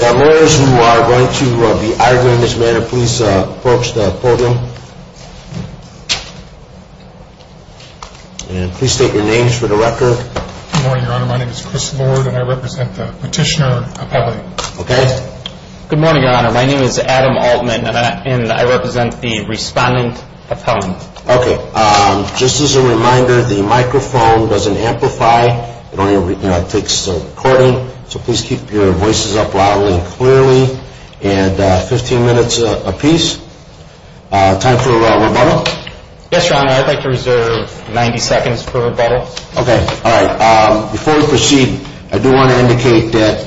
Mayors who are going to be arguing this matter, please approach the podium and please state your names for the record. Good morning, Your Honor. My name is Chris Lord and I represent the Petitioner Appellate. Okay. Good morning, Your Honor. My name is Adam Altman and I represent the Respondent Appellant. Okay. Just as a reminder, the microphone doesn't amplify. It only takes the recording. So please keep your voices up loudly and clearly. And 15 minutes apiece. Time for rebuttal. Yes, Your Honor. I'd like to reserve 90 seconds for rebuttal. Okay. All right. Before we proceed, I do want to indicate that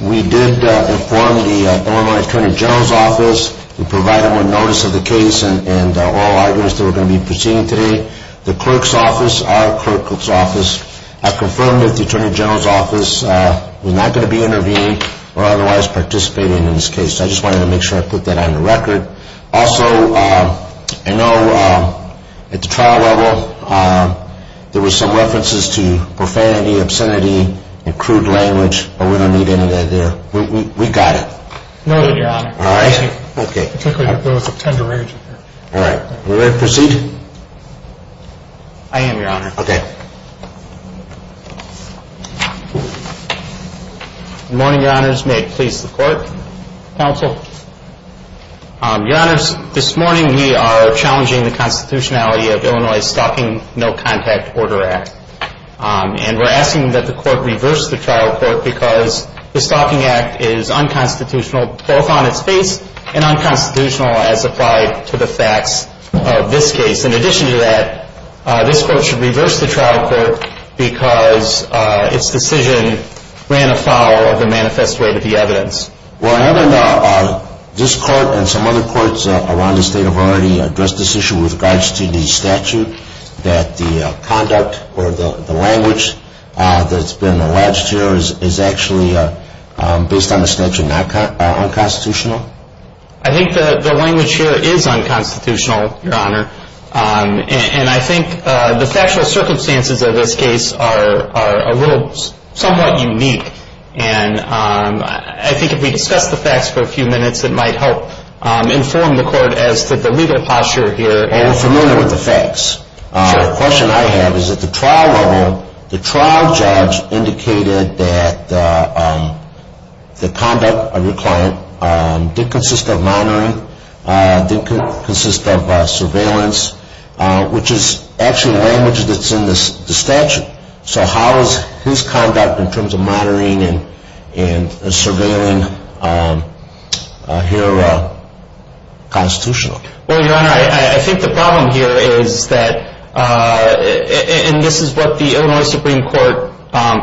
we did inform the Illinois Attorney General's office. We provided them with notice of the case and all arguments that we're going to be proceeding today. The clerk's office, our clerk's office, I've confirmed with the Attorney General's office, we're not going to be intervening or otherwise participating in this case. So I just wanted to make sure I put that on the record. Also, I know at the trial level, there were some references to profanity, obscenity, and crude language, but we don't need any of that there. We got it. No, Your Honor. All right. Okay. Particularly with those of tender age. All right. We're ready to proceed? I am, Your Honor. Okay. Good morning, Your Honors. May it please the Court. Counsel. Your Honors, this morning we are challenging the constitutionality of Illinois Stalking No Contact Order Act. And we're asking that the Court reverse the trial court because the Stalking Act is unconstitutional both on its face and unconstitutional as applied to the facts of this case. In addition to that, this Court should reverse the trial court because its decision ran afoul of the manifest way that the evidence. Well, Your Honor, this Court and some other courts around the state have already addressed this issue with regards to the statute that the conduct or the language that's been alleged here is actually, based on the statute, unconstitutional? I think the language here is unconstitutional, Your Honor. And I think the factual circumstances of this case are a little somewhat unique. And I think if we discuss the facts for a few minutes, it might help inform the Court as to the legal posture here. Well, we're familiar with the facts. The question I have is at the trial level, the trial judge indicated that the conduct of your client did consist of monitoring, did consist of surveillance, which is actually language that's in the statute. So how is his conduct in terms of monitoring and surveilling here constitutional? Well, Your Honor, I think the problem here is that, and this is what the Illinois Supreme Court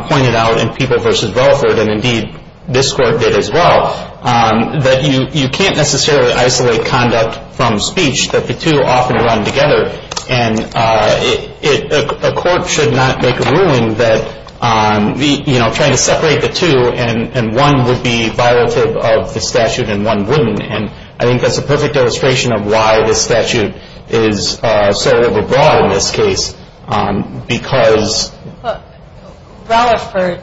pointed out in People v. Belford, and indeed this Court did as well, that you can't necessarily isolate conduct from speech, that the two often run together. And a court should not make a ruling that, you know, trying to separate the two and one would be violative of the statute and one wouldn't. And I think that's a perfect illustration of why this statute is so overbroad in this case, because... Well, Ralliford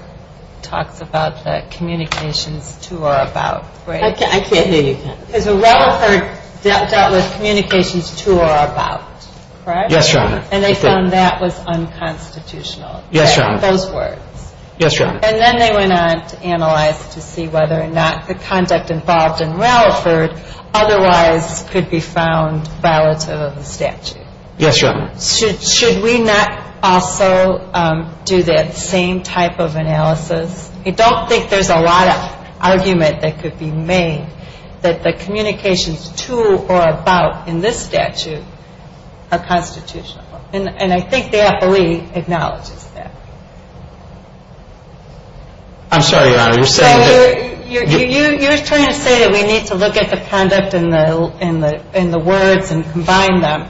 talks about the communications to or about, right? I can't hear you. Because Ralliford dealt with communications to or about, correct? Yes, Your Honor. And they found that was unconstitutional. Yes, Your Honor. Those words. Yes, Your Honor. And then they went on to analyze to see whether or not the conduct involved in Ralliford otherwise could be found violative of the statute. Yes, Your Honor. Should we not also do that same type of analysis? I don't think there's a lot of argument that could be made that the communications to or about in this statute are constitutional. And I think the FLE acknowledges that. I'm sorry, Your Honor. You're saying that... So you're trying to say that we need to look at the conduct in the words and combine them.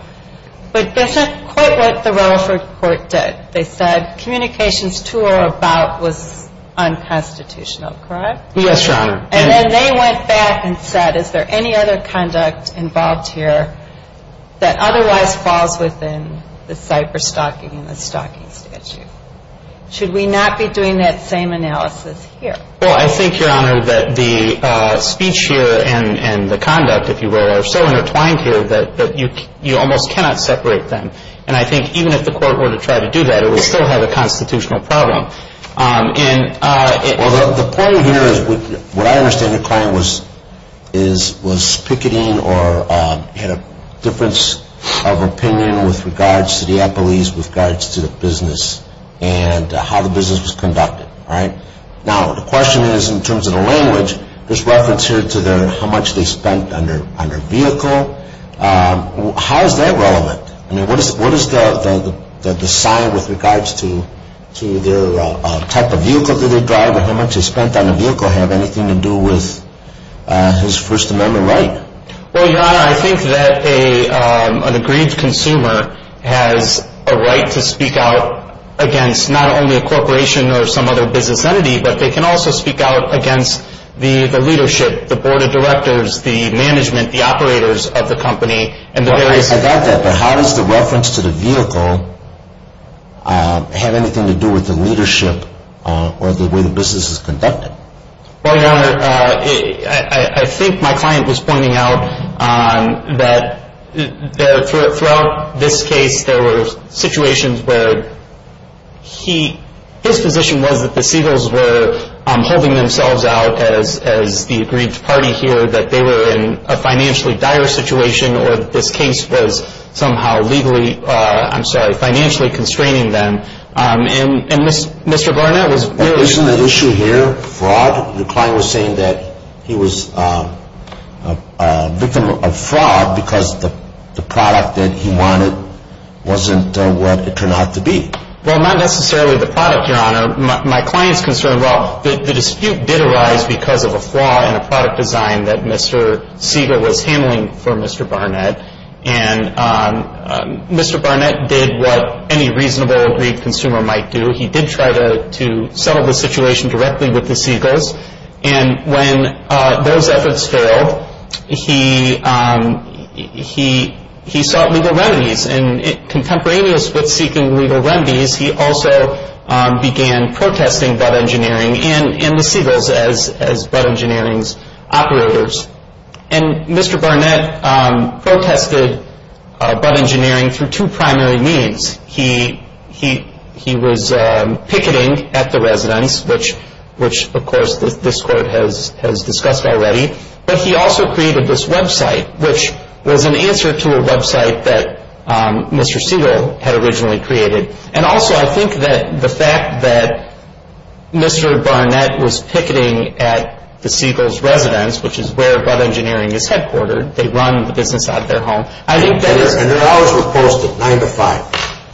But that's not quite what the Ralliford court did. They said communications to or about was unconstitutional, correct? Yes, Your Honor. And then they went back and said, is there any other conduct involved here that otherwise falls within the CIPER stocking and the stocking statute? Should we not be doing that same analysis here? Well, I think, Your Honor, that the speech here and the conduct, if you will, are so intertwined here that you almost cannot separate them. And I think even if the court were to try to do that, it would still have a constitutional problem. Well, the point here is what I understand the client was picketing or had a difference of opinion with regards to the employees, with regards to the business and how the business was conducted, all right? Now, the question is in terms of the language, there's reference here to how much they spent on their vehicle. How is that relevant? I mean, what is the sign with regards to the type of vehicle that they drive and how much they spent on the vehicle have anything to do with his First Amendment right? Well, Your Honor, I think that an agreed consumer has a right to speak out against not only a corporation or some other business entity, but they can also speak out against the leadership, the board of directors, the management, the operators of the company, and the various... But how does the reference to the vehicle have anything to do with the leadership or the way the business is conducted? Well, Your Honor, I think my client was pointing out that throughout this case, there were situations where his position was that the Seagulls were holding themselves out as the agreed party here, that they were in a financially dire situation or this case was somehow legally, I'm sorry, financially constraining them. And Mr. Barnett was... Isn't that issue here fraud? The client was saying that he was a victim of fraud because the product that he wanted wasn't what it turned out to be. And my client's concern, well, the dispute did arise because of a flaw in the product design that Mr. Seagull was handling for Mr. Barnett. And Mr. Barnett did what any reasonable agreed consumer might do. He did try to settle the situation directly with the Seagulls. And when those efforts failed, he sought legal remedies. And contemporaneous with seeking legal remedies, he also began protesting Bud Engineering and the Seagulls as Bud Engineering's operators. And Mr. Barnett protested Bud Engineering through two primary means. He was picketing at the residence, which, of course, this court has discussed already. But he also created this website, which was an answer to a website that Mr. Seagull had originally created. And also, I think that the fact that Mr. Barnett was picketing at the Seagulls' residence, which is where Bud Engineering is headquartered, they run the business out of their home. And their hours were posted, nine to five.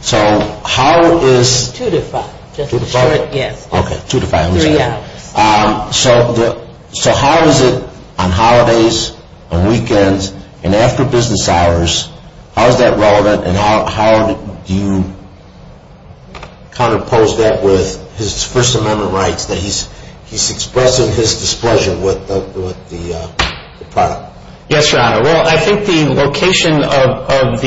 So how is... Two to five. Two to five? Yes. Okay, two to five. Three hours. So how is it on holidays, on weekends, and after business hours, how is that relevant? And how do you counterpose that with his First Amendment rights, that he's expressing his displeasure with the product? Yes, Your Honor. Well, I think the location of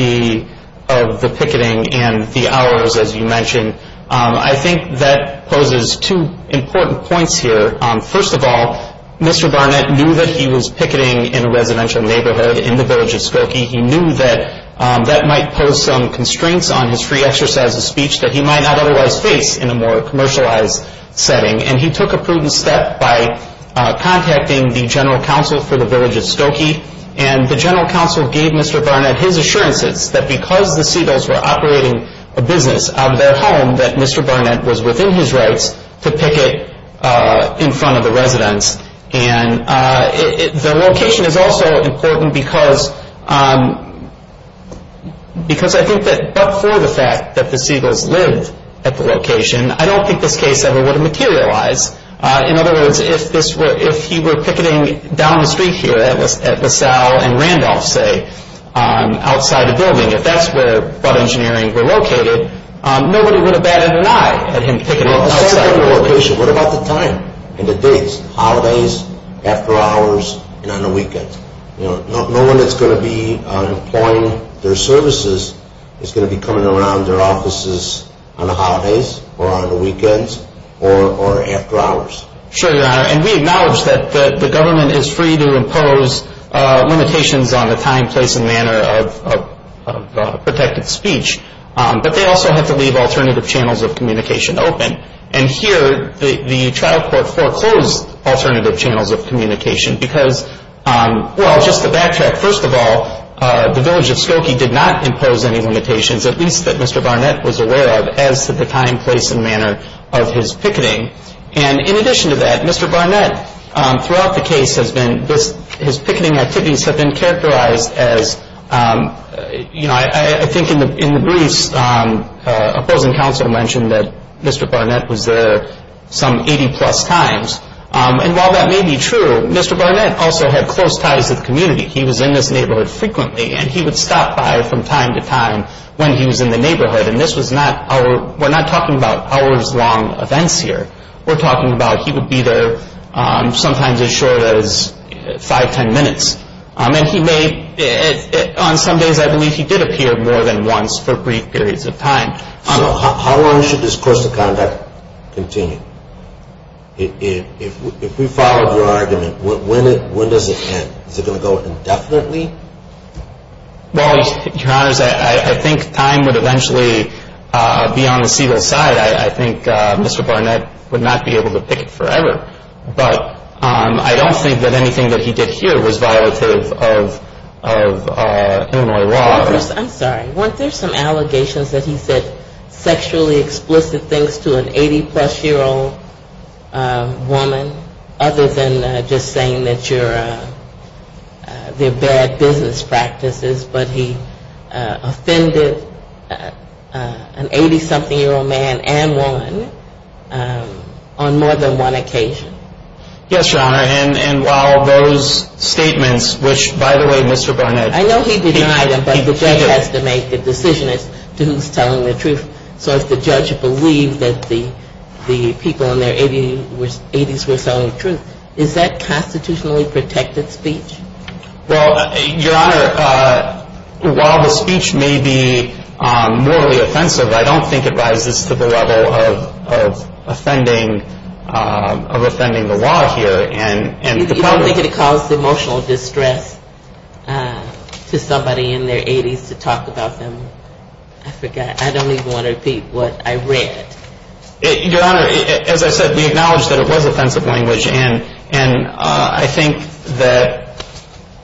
the picketing and the hours, as you mentioned, I think that poses two important points here. First of all, Mr. Barnett knew that he was picketing in a residential neighborhood in the village of Skokie. He knew that that might pose some constraints on his free exercise of speech that he might not otherwise face in a more commercialized setting. And he took a prudent step by contacting the general counsel for the village of Skokie. And the general counsel gave Mr. Barnett his assurances that because the Seagulls were operating a business out of their home, that Mr. Barnett was within his rights to picket in front of the residence. And the location is also important because I think that but for the fact that the Seagulls lived at the location, I don't think this case ever would have materialized. In other words, if he were picketing down the street here at LaSalle and Randolph, say, outside a building, if that's where ButtEngineering were located, nobody would have batted an eye at him picketing outside the building. Well, aside from the location, what about the time and the dates? Holidays, after hours, and on the weekends? No one that's going to be employing their services is going to be coming around their offices on the holidays or on the weekends or after hours. Sure, Your Honor. And we acknowledge that the government is free to impose limitations on the time, place, and manner of protected speech, but they also have to leave alternative channels of communication open. And here the trial court foreclosed alternative channels of communication because, well, just to backtrack, first of all, the village of Skokie did not impose any limitations, at least that Mr. Barnett was aware of, as to the time, place, and manner of his picketing. And in addition to that, Mr. Barnett, throughout the case, his picketing activities have been characterized as, you know, I think in the briefs, opposing counsel mentioned that Mr. Barnett was there some 80-plus times. And while that may be true, Mr. Barnett also had close ties to the community. He was in this neighborhood frequently, and he would stop by from time to time when he was in the neighborhood. And this was not our – we're not talking about hours-long events here. We're talking about he would be there sometimes as short as five, ten minutes. And he may – on some days I believe he did appear more than once for brief periods of time. So how long should this course of conduct continue? If we followed your argument, when does it end? Is it going to go indefinitely? Well, Your Honors, I think time would eventually be on the civil side. I think Mr. Barnett would not be able to picket forever. But I don't think that anything that he did here was violative of Illinois law. I'm sorry. Weren't there some allegations that he said sexually explicit things to an 80-plus-year-old woman, other than just saying that you're – they're bad business practices, but he offended an 80-something-year-old man and woman on more than one occasion? Yes, Your Honor. And while those statements, which, by the way, Mr. Barnett – The judge has to make the decision as to who's telling the truth. So if the judge believed that the people in their 80s were telling the truth, is that constitutionally protected speech? Well, Your Honor, while the speech may be morally offensive, I don't think it rises to the level of offending the law here. You don't think it caused emotional distress to somebody in their 80s to talk about them? I forgot. I don't even want to repeat what I read. Your Honor, as I said, we acknowledge that it was offensive language, and I think that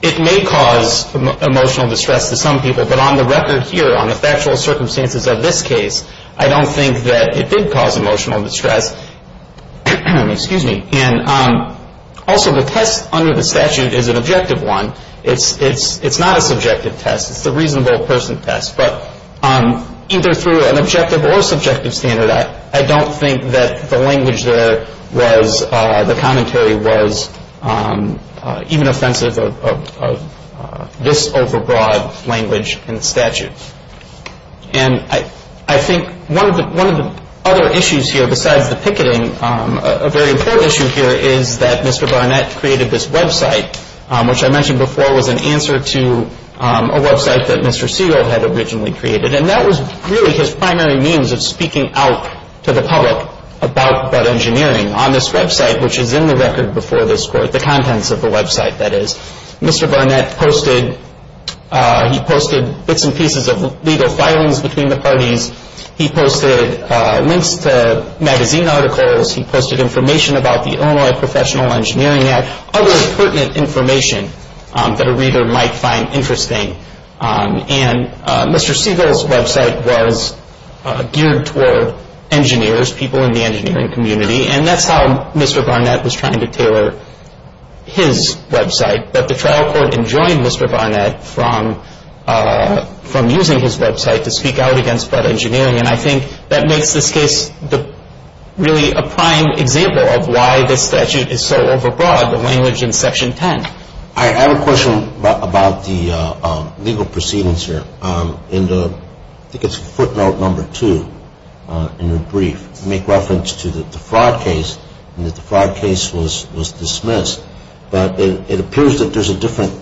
it may cause emotional distress to some people. But on the record here, on the factual circumstances of this case, I don't think that it did cause emotional distress. Excuse me. And also, the test under the statute is an objective one. It's not a subjective test. It's the reasonable person test. But either through an objective or subjective standard, I don't think that the language there was – the commentary was even offensive of this overbroad language in the statute. And I think one of the other issues here, besides the picketing, a very important issue here is that Mr. Barnett created this website, which I mentioned before was an answer to a website that Mr. Segal had originally created. And that was really his primary means of speaking out to the public about Bud Engineering. On this website, which is in the record before this Court, the contents of the website, that is, Mr. Barnett posted – he posted bits and pieces of legal filings between the parties. He posted links to magazine articles. He posted information about the Illinois Professional Engineering Act, other pertinent information that a reader might find interesting. And Mr. Segal's website was geared toward engineers, people in the engineering community, and that's how Mr. Barnett was trying to tailor his website. But the trial court enjoined Mr. Barnett from using his website to speak out against Bud Engineering. And I think that makes this case really a prime example of why this statute is so overbroad, the language in Section 10. I have a question about the legal proceedings here. I think it's footnote number two in your brief. You make reference to the fraud case and that the fraud case was dismissed. But it appears that there's a different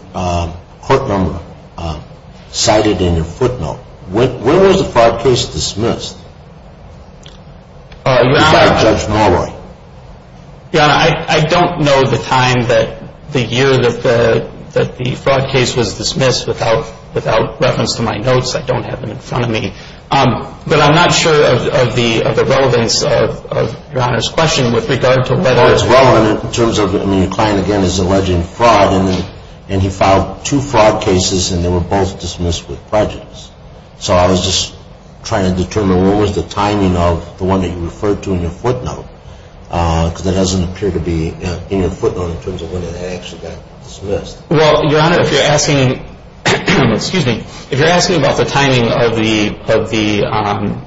court number cited in your footnote. When was the fraud case dismissed? You're talking about Judge Malloy. I don't know the time, the year that the fraud case was dismissed. Without reference to my notes, I don't have them in front of me. But I'm not sure of the relevance of Your Honor's question with regard to whether it's relevant. Well, it's relevant in terms of, I mean, your client, again, is alleging fraud, and he filed two fraud cases and they were both dismissed with prejudice. So I was just trying to determine what was the timing of the one that you referred to in your footnote because that doesn't appear to be in your footnote in terms of when it actually got dismissed. Well, Your Honor, if you're asking about the timing of the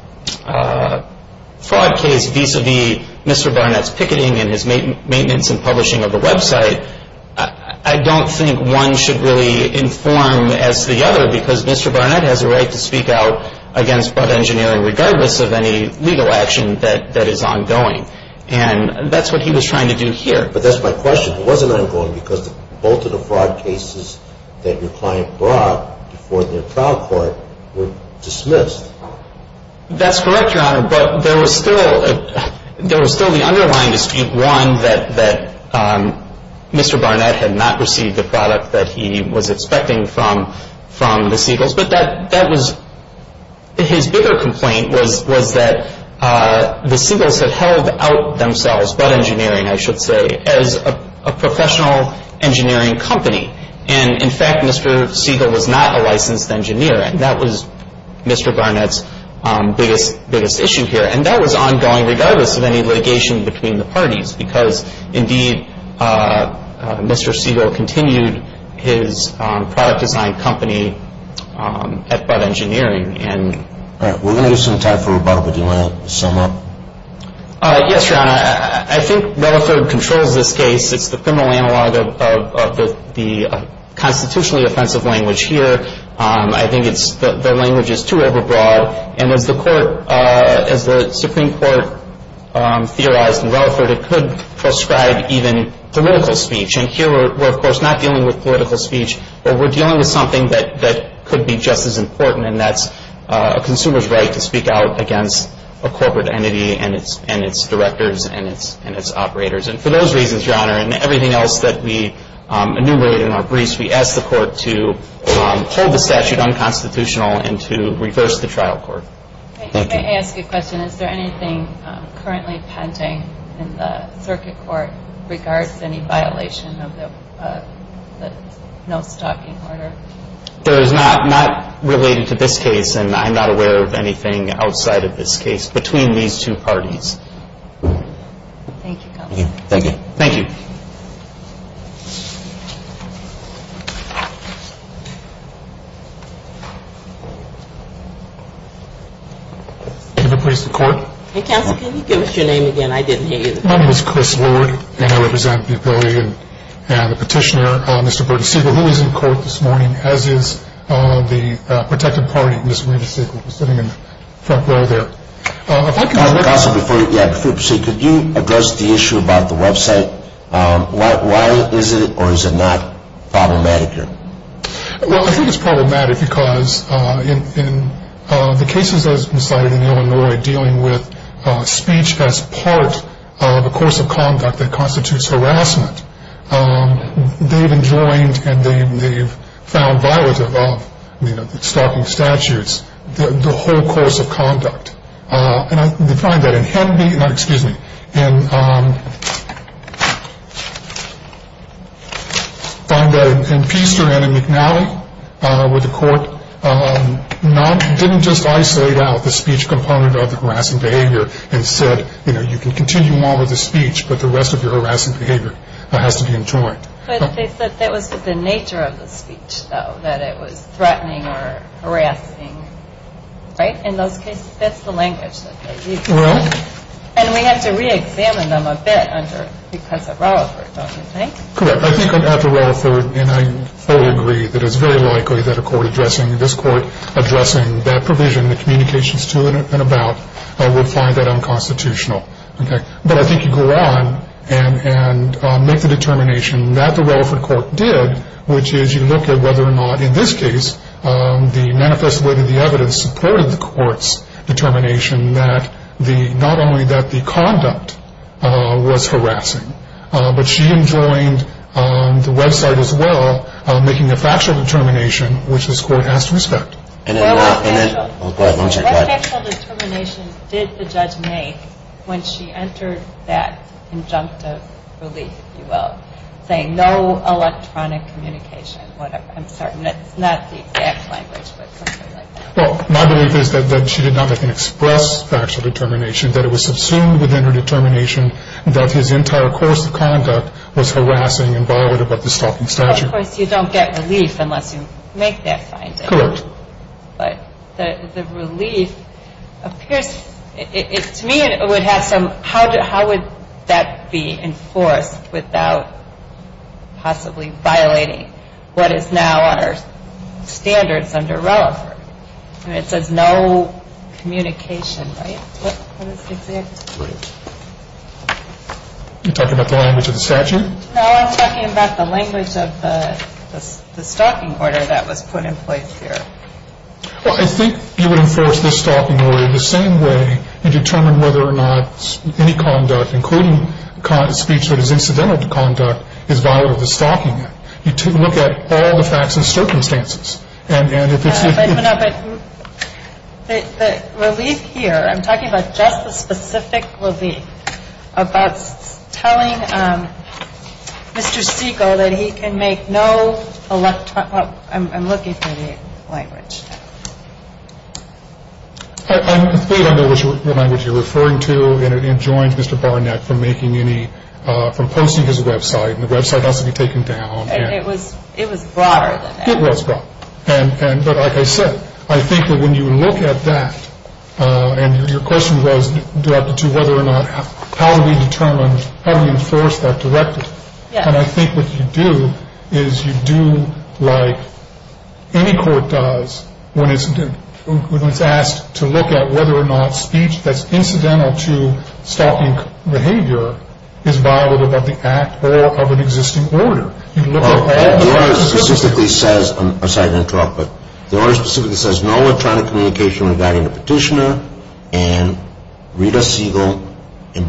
fraud case vis-à-vis Mr. Barnett's picketing and his maintenance and publishing of the website, I don't think one should really inform as to the other because Mr. Barnett has a right to speak out against fraud engineering regardless of any legal action that is ongoing. And that's what he was trying to do here. But that's my question. It wasn't ongoing because both of the fraud cases that your client brought before their trial court were dismissed. That's correct, Your Honor, but there was still the underlying dispute. One, that Mr. Barnett had not received the product that he was expecting from the Siegels. But his bigger complaint was that the Siegels had held out themselves, but engineering I should say, as a professional engineering company. And in fact, Mr. Siegel was not a licensed engineer. And that was Mr. Barnett's biggest issue here. And that was ongoing regardless of any litigation between the parties because indeed Mr. Siegel continued his product design company by engineering. All right. We're going to do some time for rebuttal, but do you want to sum up? Yes, Your Honor. I think Relaford controls this case. It's the criminal analog of the constitutionally offensive language here. I think the language is too overbroad. And as the Supreme Court theorized in Relaford, it could prescribe even political speech. And here we're, of course, not dealing with political speech, but we're dealing with something that could be just as important, and that's a consumer's right to speak out against a corporate entity and its directors and its operators. And for those reasons, Your Honor, and everything else that we enumerated in our briefs, we ask the Court to hold the statute unconstitutional and to reverse the trial court. Thank you. May I ask a question? Is there anything currently pending in the circuit court regards any violation of the no-stalking order? There is not, not related to this case, and I'm not aware of anything outside of this case between these two parties. Thank you, Counsel. Thank you. Thank you. Thank you. If it pleases the Court. Counsel, can you give us your name again? I didn't hear you. My name is Chris Lord, and I represent the Petitioner, Mr. Bernie Siegel, who is in court this morning, as is the protected party, Ms. Maria Siegel, sitting in the front row there. Counsel, before you proceed, could you address the issue about the website? Why is it or is it not problematic here? Well, I think it's problematic because in the cases that have been cited in Illinois dealing with speech as part of a course of conduct that constitutes harassment, they've enjoined and they've found violative of, you know, stalking statutes the whole course of conduct. And they find that in Hemby, no, excuse me, and find that in Pister and in McNally where the court didn't just isolate out the speech component of the harassment behavior and said, you know, you can continue on with the speech, but the rest of your harassment behavior has to be enjoined. But they said that was the nature of the speech, though, that it was threatening or harassing. Right? In those cases, that's the language that they use. Right. And we have to reexamine them a bit because of Relaford, don't you think? Correct. I think after Relaford, and I fully agree that it's very likely that a court addressing this court, addressing that provision, the communications to and about, will find that unconstitutional. Okay? But I think you go on and make the determination that the Relaford court did, which is you look at whether or not, in this case, the manifest way that the evidence supported the court's determination that not only that the conduct was harassing, but she enjoined the website as well, making a factual determination, which this court has to respect. What factual determination did the judge make when she entered that injunctive release, if you will, saying no electronic communication, whatever? I'm sorry. It's not the exact language, but something like that. Well, my belief is that she did not make an express factual determination, that it was subsumed within her determination that his entire course of conduct was harassing and violated by the stopping statute. Of course, you don't get relief unless you make that finding. Correct. But the relief appears, to me, it would have some, how would that be enforced without possibly violating what is now on our standards under Relaford? I mean, it says no communication, right? What is the exact? Are you talking about the language of the statute? No, I'm talking about the language of the stalking order that was put in place here. Well, I think you would enforce the stalking order the same way and determine whether or not any conduct, including speech that is incidental to conduct, is violated the stalking act. You look at all the facts and circumstances. But the relief here, I'm talking about just the specific relief, about telling Mr. Siegel that he can make no, I'm looking for the language. I'm afraid I know what language you're referring to, and it joins Mr. Barnett from posting his website, and the website has to be taken down. It was broader than that. It was broad. But like I said, I think that when you look at that, and your question was to whether or not, how do we determine, how do we enforce that directly? And I think what you do is you do like any court does when it's asked to look at whether or not speech that's incidental to stalking behavior is violated by the act or of an existing order. The order specifically says, I'm sorry to interrupt, but the order specifically says no electronic communication regarding the petitioner and Rita Siegel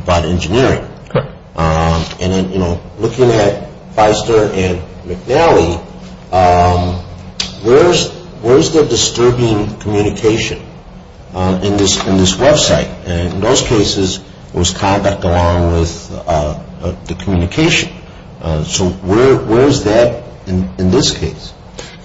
by the engineering. And then, you know, looking at Feister and McNally, where's the disturbing communication in this website? And in those cases, it was conduct along with the communication. So where is that in this case?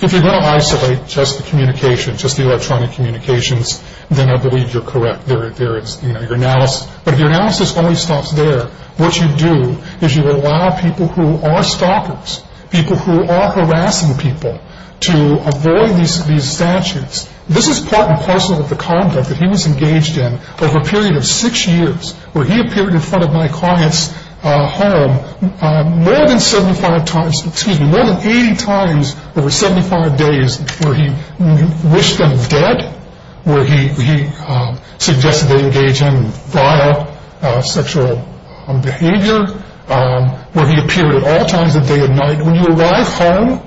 If you're going to isolate just the communication, just the electronic communications, then I believe you're correct. There is, you know, your analysis. But if your analysis only stops there, what you do is you allow people who are stalkers, people who are harassing people, to avoid these statutes. This is part and parcel of the conduct that he was engaged in over a period of six years, where he appeared in front of my client's home more than 75 times, excuse me, more than 80 times over 75 days where he wished them dead, where he suggested they engage in vile sexual behavior, where he appeared at all times of day and night. When you arrive home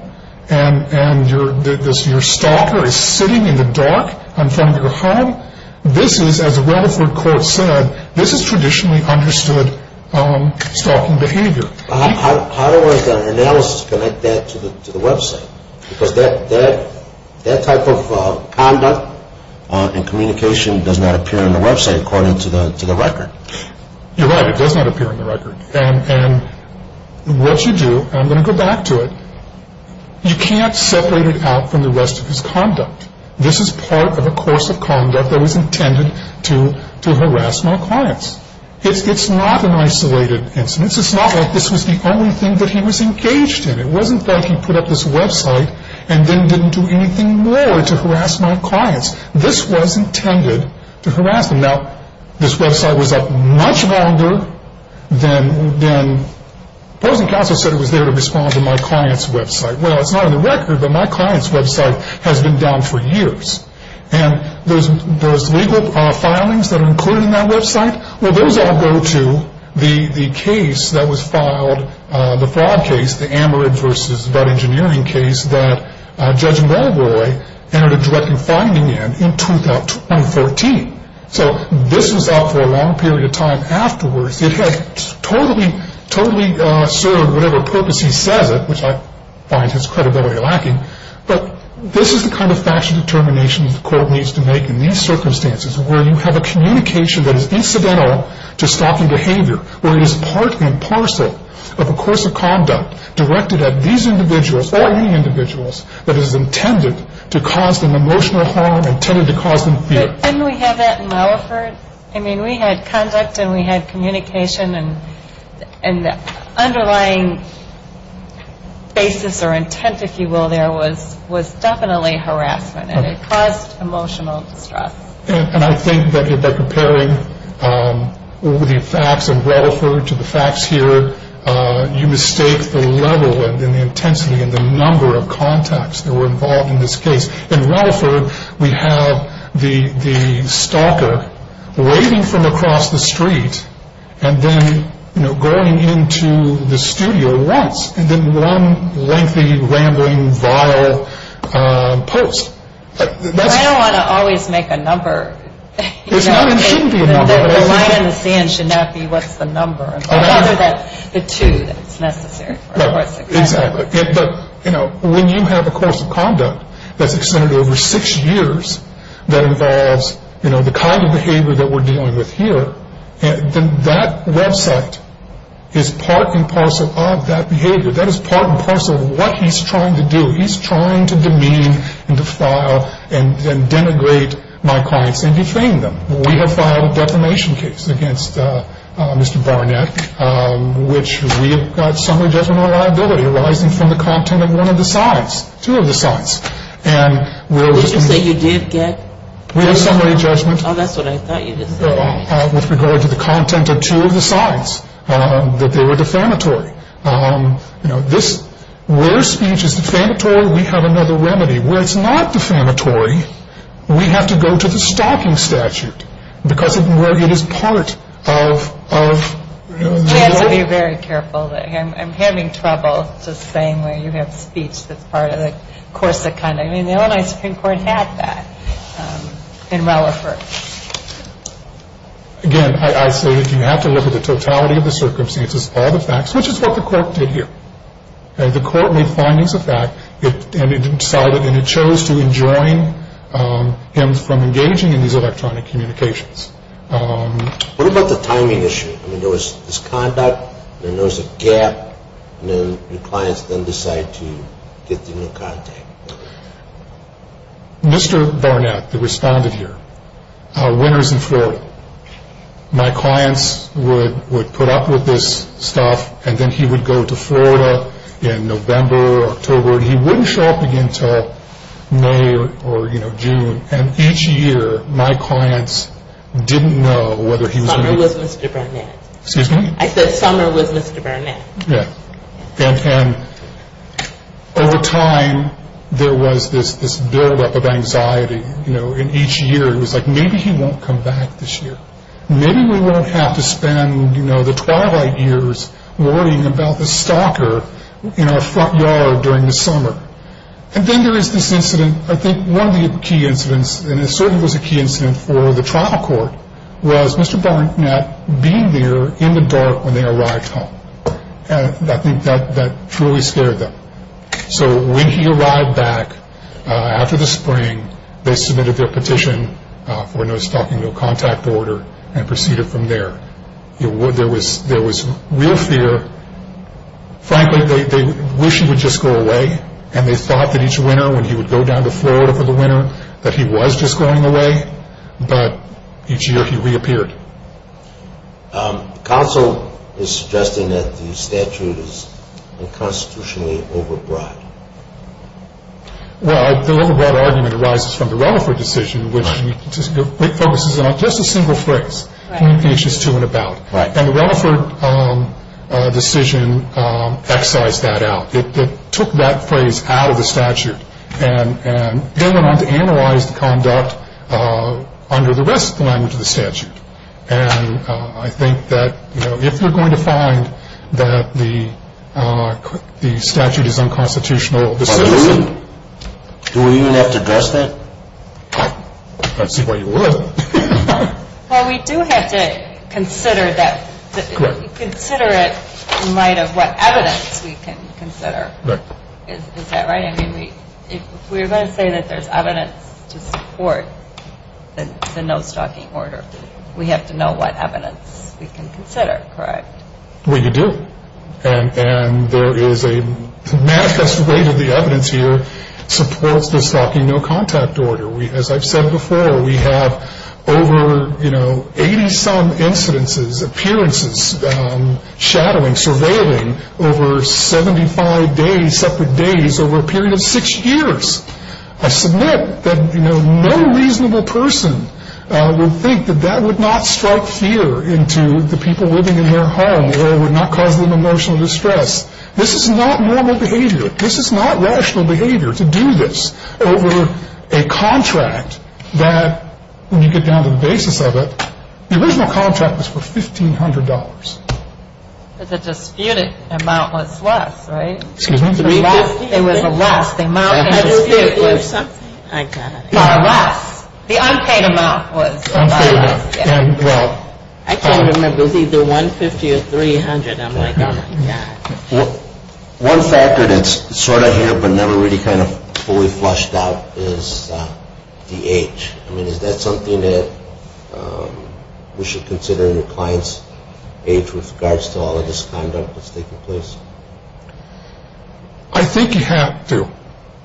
and your stalker is sitting in the dark in front of your home, this is, as a Rutherford quote said, this is traditionally understood stalking behavior. How does the analysis connect that to the website? Because that type of conduct and communication does not appear on the website according to the record. You're right. It does not appear on the record. And what you do, and I'm going to go back to it, you can't separate it out from the rest of his conduct. This is part of a course of conduct that was intended to harass my clients. It's not an isolated incident. It's not like this was the only thing that he was engaged in. It wasn't like he put up this website and then didn't do anything more to harass my clients. This was intended to harass them. Now, this website was up much longer than, the opposing counsel said it was there to respond to my client's website. Well, it's not on the record, but my client's website has been down for years. And those legal filings that are included in that website, well, those all go to the case that was filed, the fraud case, the Amarid v. Bud Engineering case that Judge Mulroy entered a directing finding in in 2014. So this was up for a long period of time afterwards. It has totally served whatever purpose he says it, which I find his credibility lacking. But this is the kind of factual determination the court needs to make in these circumstances where you have a communication that is incidental to stalking behavior, where it is part and parcel of a course of conduct directed at these individuals or any individuals that is intended to cause them emotional harm, intended to cause them fear. Didn't we have that in Relaford? I mean, we had conduct and we had communication, and the underlying basis or intent, if you will, there was definitely harassment, and it caused emotional distress. And I think that by comparing the facts in Relaford to the facts here, you mistake the level and the intensity and the number of contacts that were involved in this case. In Relaford, we have the stalker waiting from across the street and then going into the studio once, and then one lengthy, rambling, vile post. I don't want to always make a number. It shouldn't be a number. The line in the sand should not be what's the number, but rather the two that's necessary for a course of conduct. Exactly. But when you have a course of conduct that's extended over six years that involves the kind of behavior that we're dealing with here, then that website is part and parcel of that behavior. That is part and parcel of what he's trying to do. He's trying to demean and defile and denigrate my clients and defame them. We have filed a defamation case against Mr. Barnett, which we have got summary judgment on liability arising from the content of one of the signs, two of the signs. What did you say you did get? We have summary judgment. Oh, that's what I thought you did say. With regard to the content of two of the signs that they were defamatory. You know, where speech is defamatory, we have another remedy. Where it's not defamatory, we have to go to the stalking statute because of where it is part of... You have to be very careful. I'm having trouble just saying where you have speech that's part of the course of conduct. I mean, the Illinois Supreme Court had that in relevance. Again, I say that you have to look at the totality of the circumstances, all the facts, which is what the court did here. The court made findings of that, and it decided, and it chose to enjoin him from engaging in these electronic communications. What about the timing issue? I mean, there was this conduct, and then there was a gap, and then your clients then decided to get the new content. Mr. Barnett, who responded here, a winner is in Florida. My clients would put up with this stuff, and then he would go to Florida in November or October, or he wouldn't show up again until May or June. And each year, my clients didn't know whether he was going to be... Summer was Mr. Barnett. Excuse me? I said summer was Mr. Barnett. Yeah. And over time, there was this buildup of anxiety. And each year, it was like, maybe he won't come back this year. Maybe we won't have to spend the twilight years worrying about the stalker in our front yard during the summer. And then there is this incident, I think one of the key incidents, and it certainly was a key incident for the trial court, was Mr. Barnett being there in the dark when they arrived home. And I think that truly scared them. So when he arrived back after the spring, they submitted their petition for no stalking, no contact order, and proceeded from there. There was real fear. Frankly, they wished he would just go away, and they thought that each winter when he would go down to Florida for the winter, that he was just going away. But each year, he reappeared. Counsel is suggesting that the statute is unconstitutionally overbroad. Well, the overbroad argument arises from the Rutherford decision, which focuses on just a single phrase. He's anxious to and about. And the Rutherford decision excised that out. It took that phrase out of the statute, and then went on to analyze the conduct under the rest of the language of the statute. And I think that if you're going to find that the statute is unconstitutional, this is the thing. Do we even have to address that? Let's see what you would. Well, we do have to consider it in light of what evidence we can consider. Is that right? I mean, if we're going to say that there's evidence to support the no stalking order, we have to know what evidence we can consider, correct? We do. And there is a manifest way that the evidence here supports the stalking no contact order. As I've said before, we have over, you know, 80-some incidences, appearances, shadowing, surveilling, over 75 days, separate days, over a period of six years. I submit that, you know, no reasonable person would think that that would not strike fear into the people living in their home or would not cause them emotional distress. This is not normal behavior. This is not rational behavior to do this over a contract that, when you get down to the basis of it, the original contract was for $1,500. But the disputed amount was less, right? Excuse me? It was less. The amount was disputed. I got it. The unpaid amount was less. I can't remember. It was either 150 or 300. I'm like, oh, my gosh. One factor that's sort of here but never really kind of fully flushed out is the age. I mean, is that something that we should consider in the client's age with regards to all of this conduct that's taking place? I think you have to.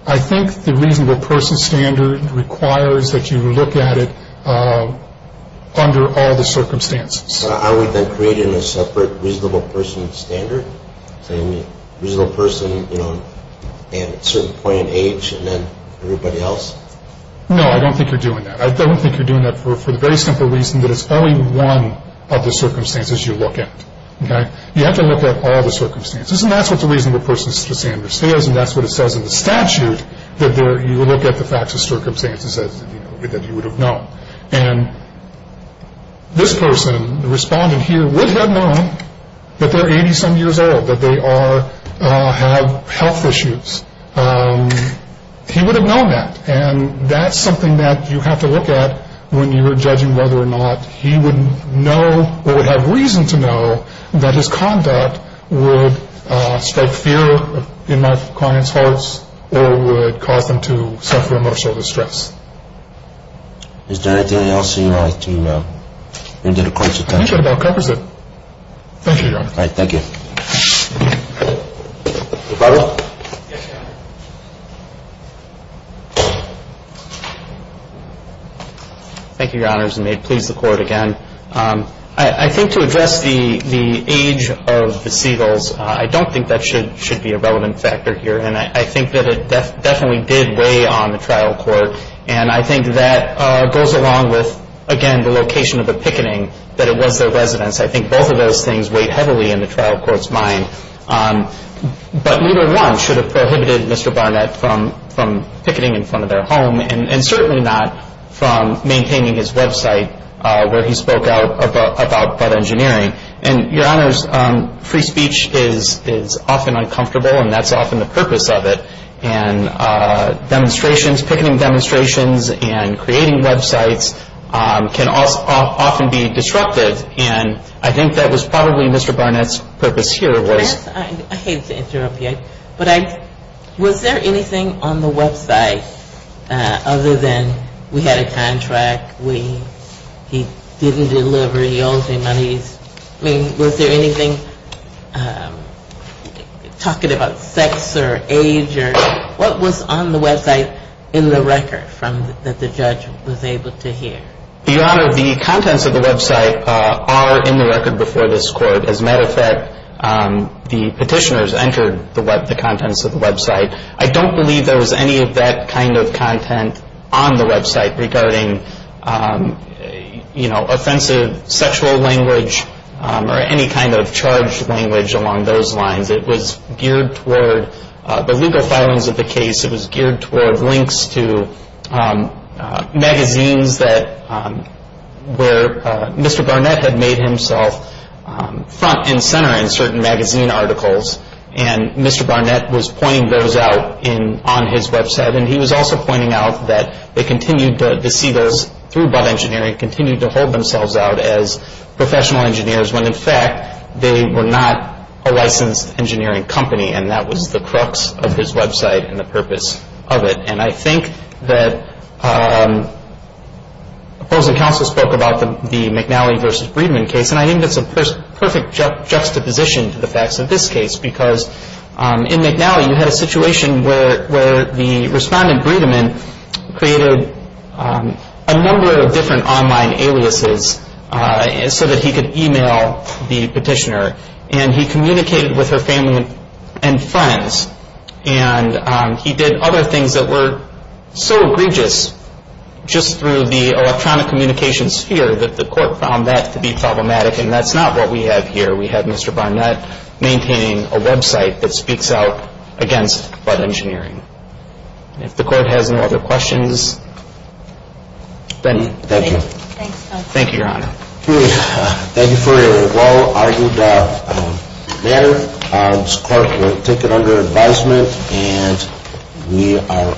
I think the reasonable person standard requires that you look at it under all the circumstances. So are we then creating a separate reasonable person standard, saying reasonable person at a certain point in age and then everybody else? No, I don't think you're doing that. I don't think you're doing that for the very simple reason that it's only one of the circumstances you look at. You have to look at all the circumstances, and that's what the reasonable person standard says, and that's what it says in the statute that you look at the facts and circumstances that you would have known. And this person, the respondent here, would have known that they're 80-some years old, that they have health issues. He would have known that, and that's something that you have to look at when you're judging whether or not he would know or would have reason to know that his conduct would strike fear in my client's hearts or would cause them to suffer emotional distress. Is there anything else you'd like to add to the court's attention? I think that about covers it. Thank you, Your Honor. All right. Thank you. Rebuttal? Yes, Your Honor. Thank you, Your Honors, and may it please the Court again. I think to address the age of the Seagulls, I don't think that should be a relevant factor here, and I think that it definitely did weigh on the trial court, and I think that goes along with, again, the location of the picketing, that it was their residence. I think both of those things weigh heavily in the trial court's mind. But neither one should have prohibited Mr. Barnett from picketing in front of their home and certainly not from maintaining his website where he spoke out about engineering. And, Your Honors, free speech is often uncomfortable, and that's often the purpose of it. And demonstrations, picketing demonstrations, and creating websites can often be disruptive, and I think that was probably Mr. Barnett's purpose here was – I hate to interrupt you, but was there anything on the website other than we had a contract, he didn't deliver, he owes me money. I mean, was there anything talking about sex or age or – what was on the website in the record that the judge was able to hear? Your Honor, the contents of the website are in the record before this Court. As a matter of fact, the petitioners entered the contents of the website. I don't believe there was any of that kind of content on the website regarding, you know, offensive sexual language or any kind of charged language along those lines. It was geared toward the legal filings of the case. It was geared toward links to magazines that were – Mr. Barnett had made himself front and center in certain magazine articles, and Mr. Barnett was pointing those out on his website, and he was also pointing out that they continued to see those through bud engineering, continued to hold themselves out as professional engineers, when in fact they were not a licensed engineering company, and that was the crux of his website and the purpose of it. And I think that opposing counsel spoke about the McNally v. Breedman case, and I think that's a perfect juxtaposition to the facts of this case, because in McNally you had a situation where the respondent, Breedman, created a number of different online aliases so that he could e-mail the petitioner, and he communicated with her family and friends, and he did other things that were so egregious just through the electronic communications sphere that the court found that to be problematic, and that's not what we have here. We have Mr. Barnett maintaining a website that speaks out against bud engineering. If the court has no other questions, then thank you, Your Honor. Thank you for a well-argued matter. This court will take it under advisement, and we are adjourned.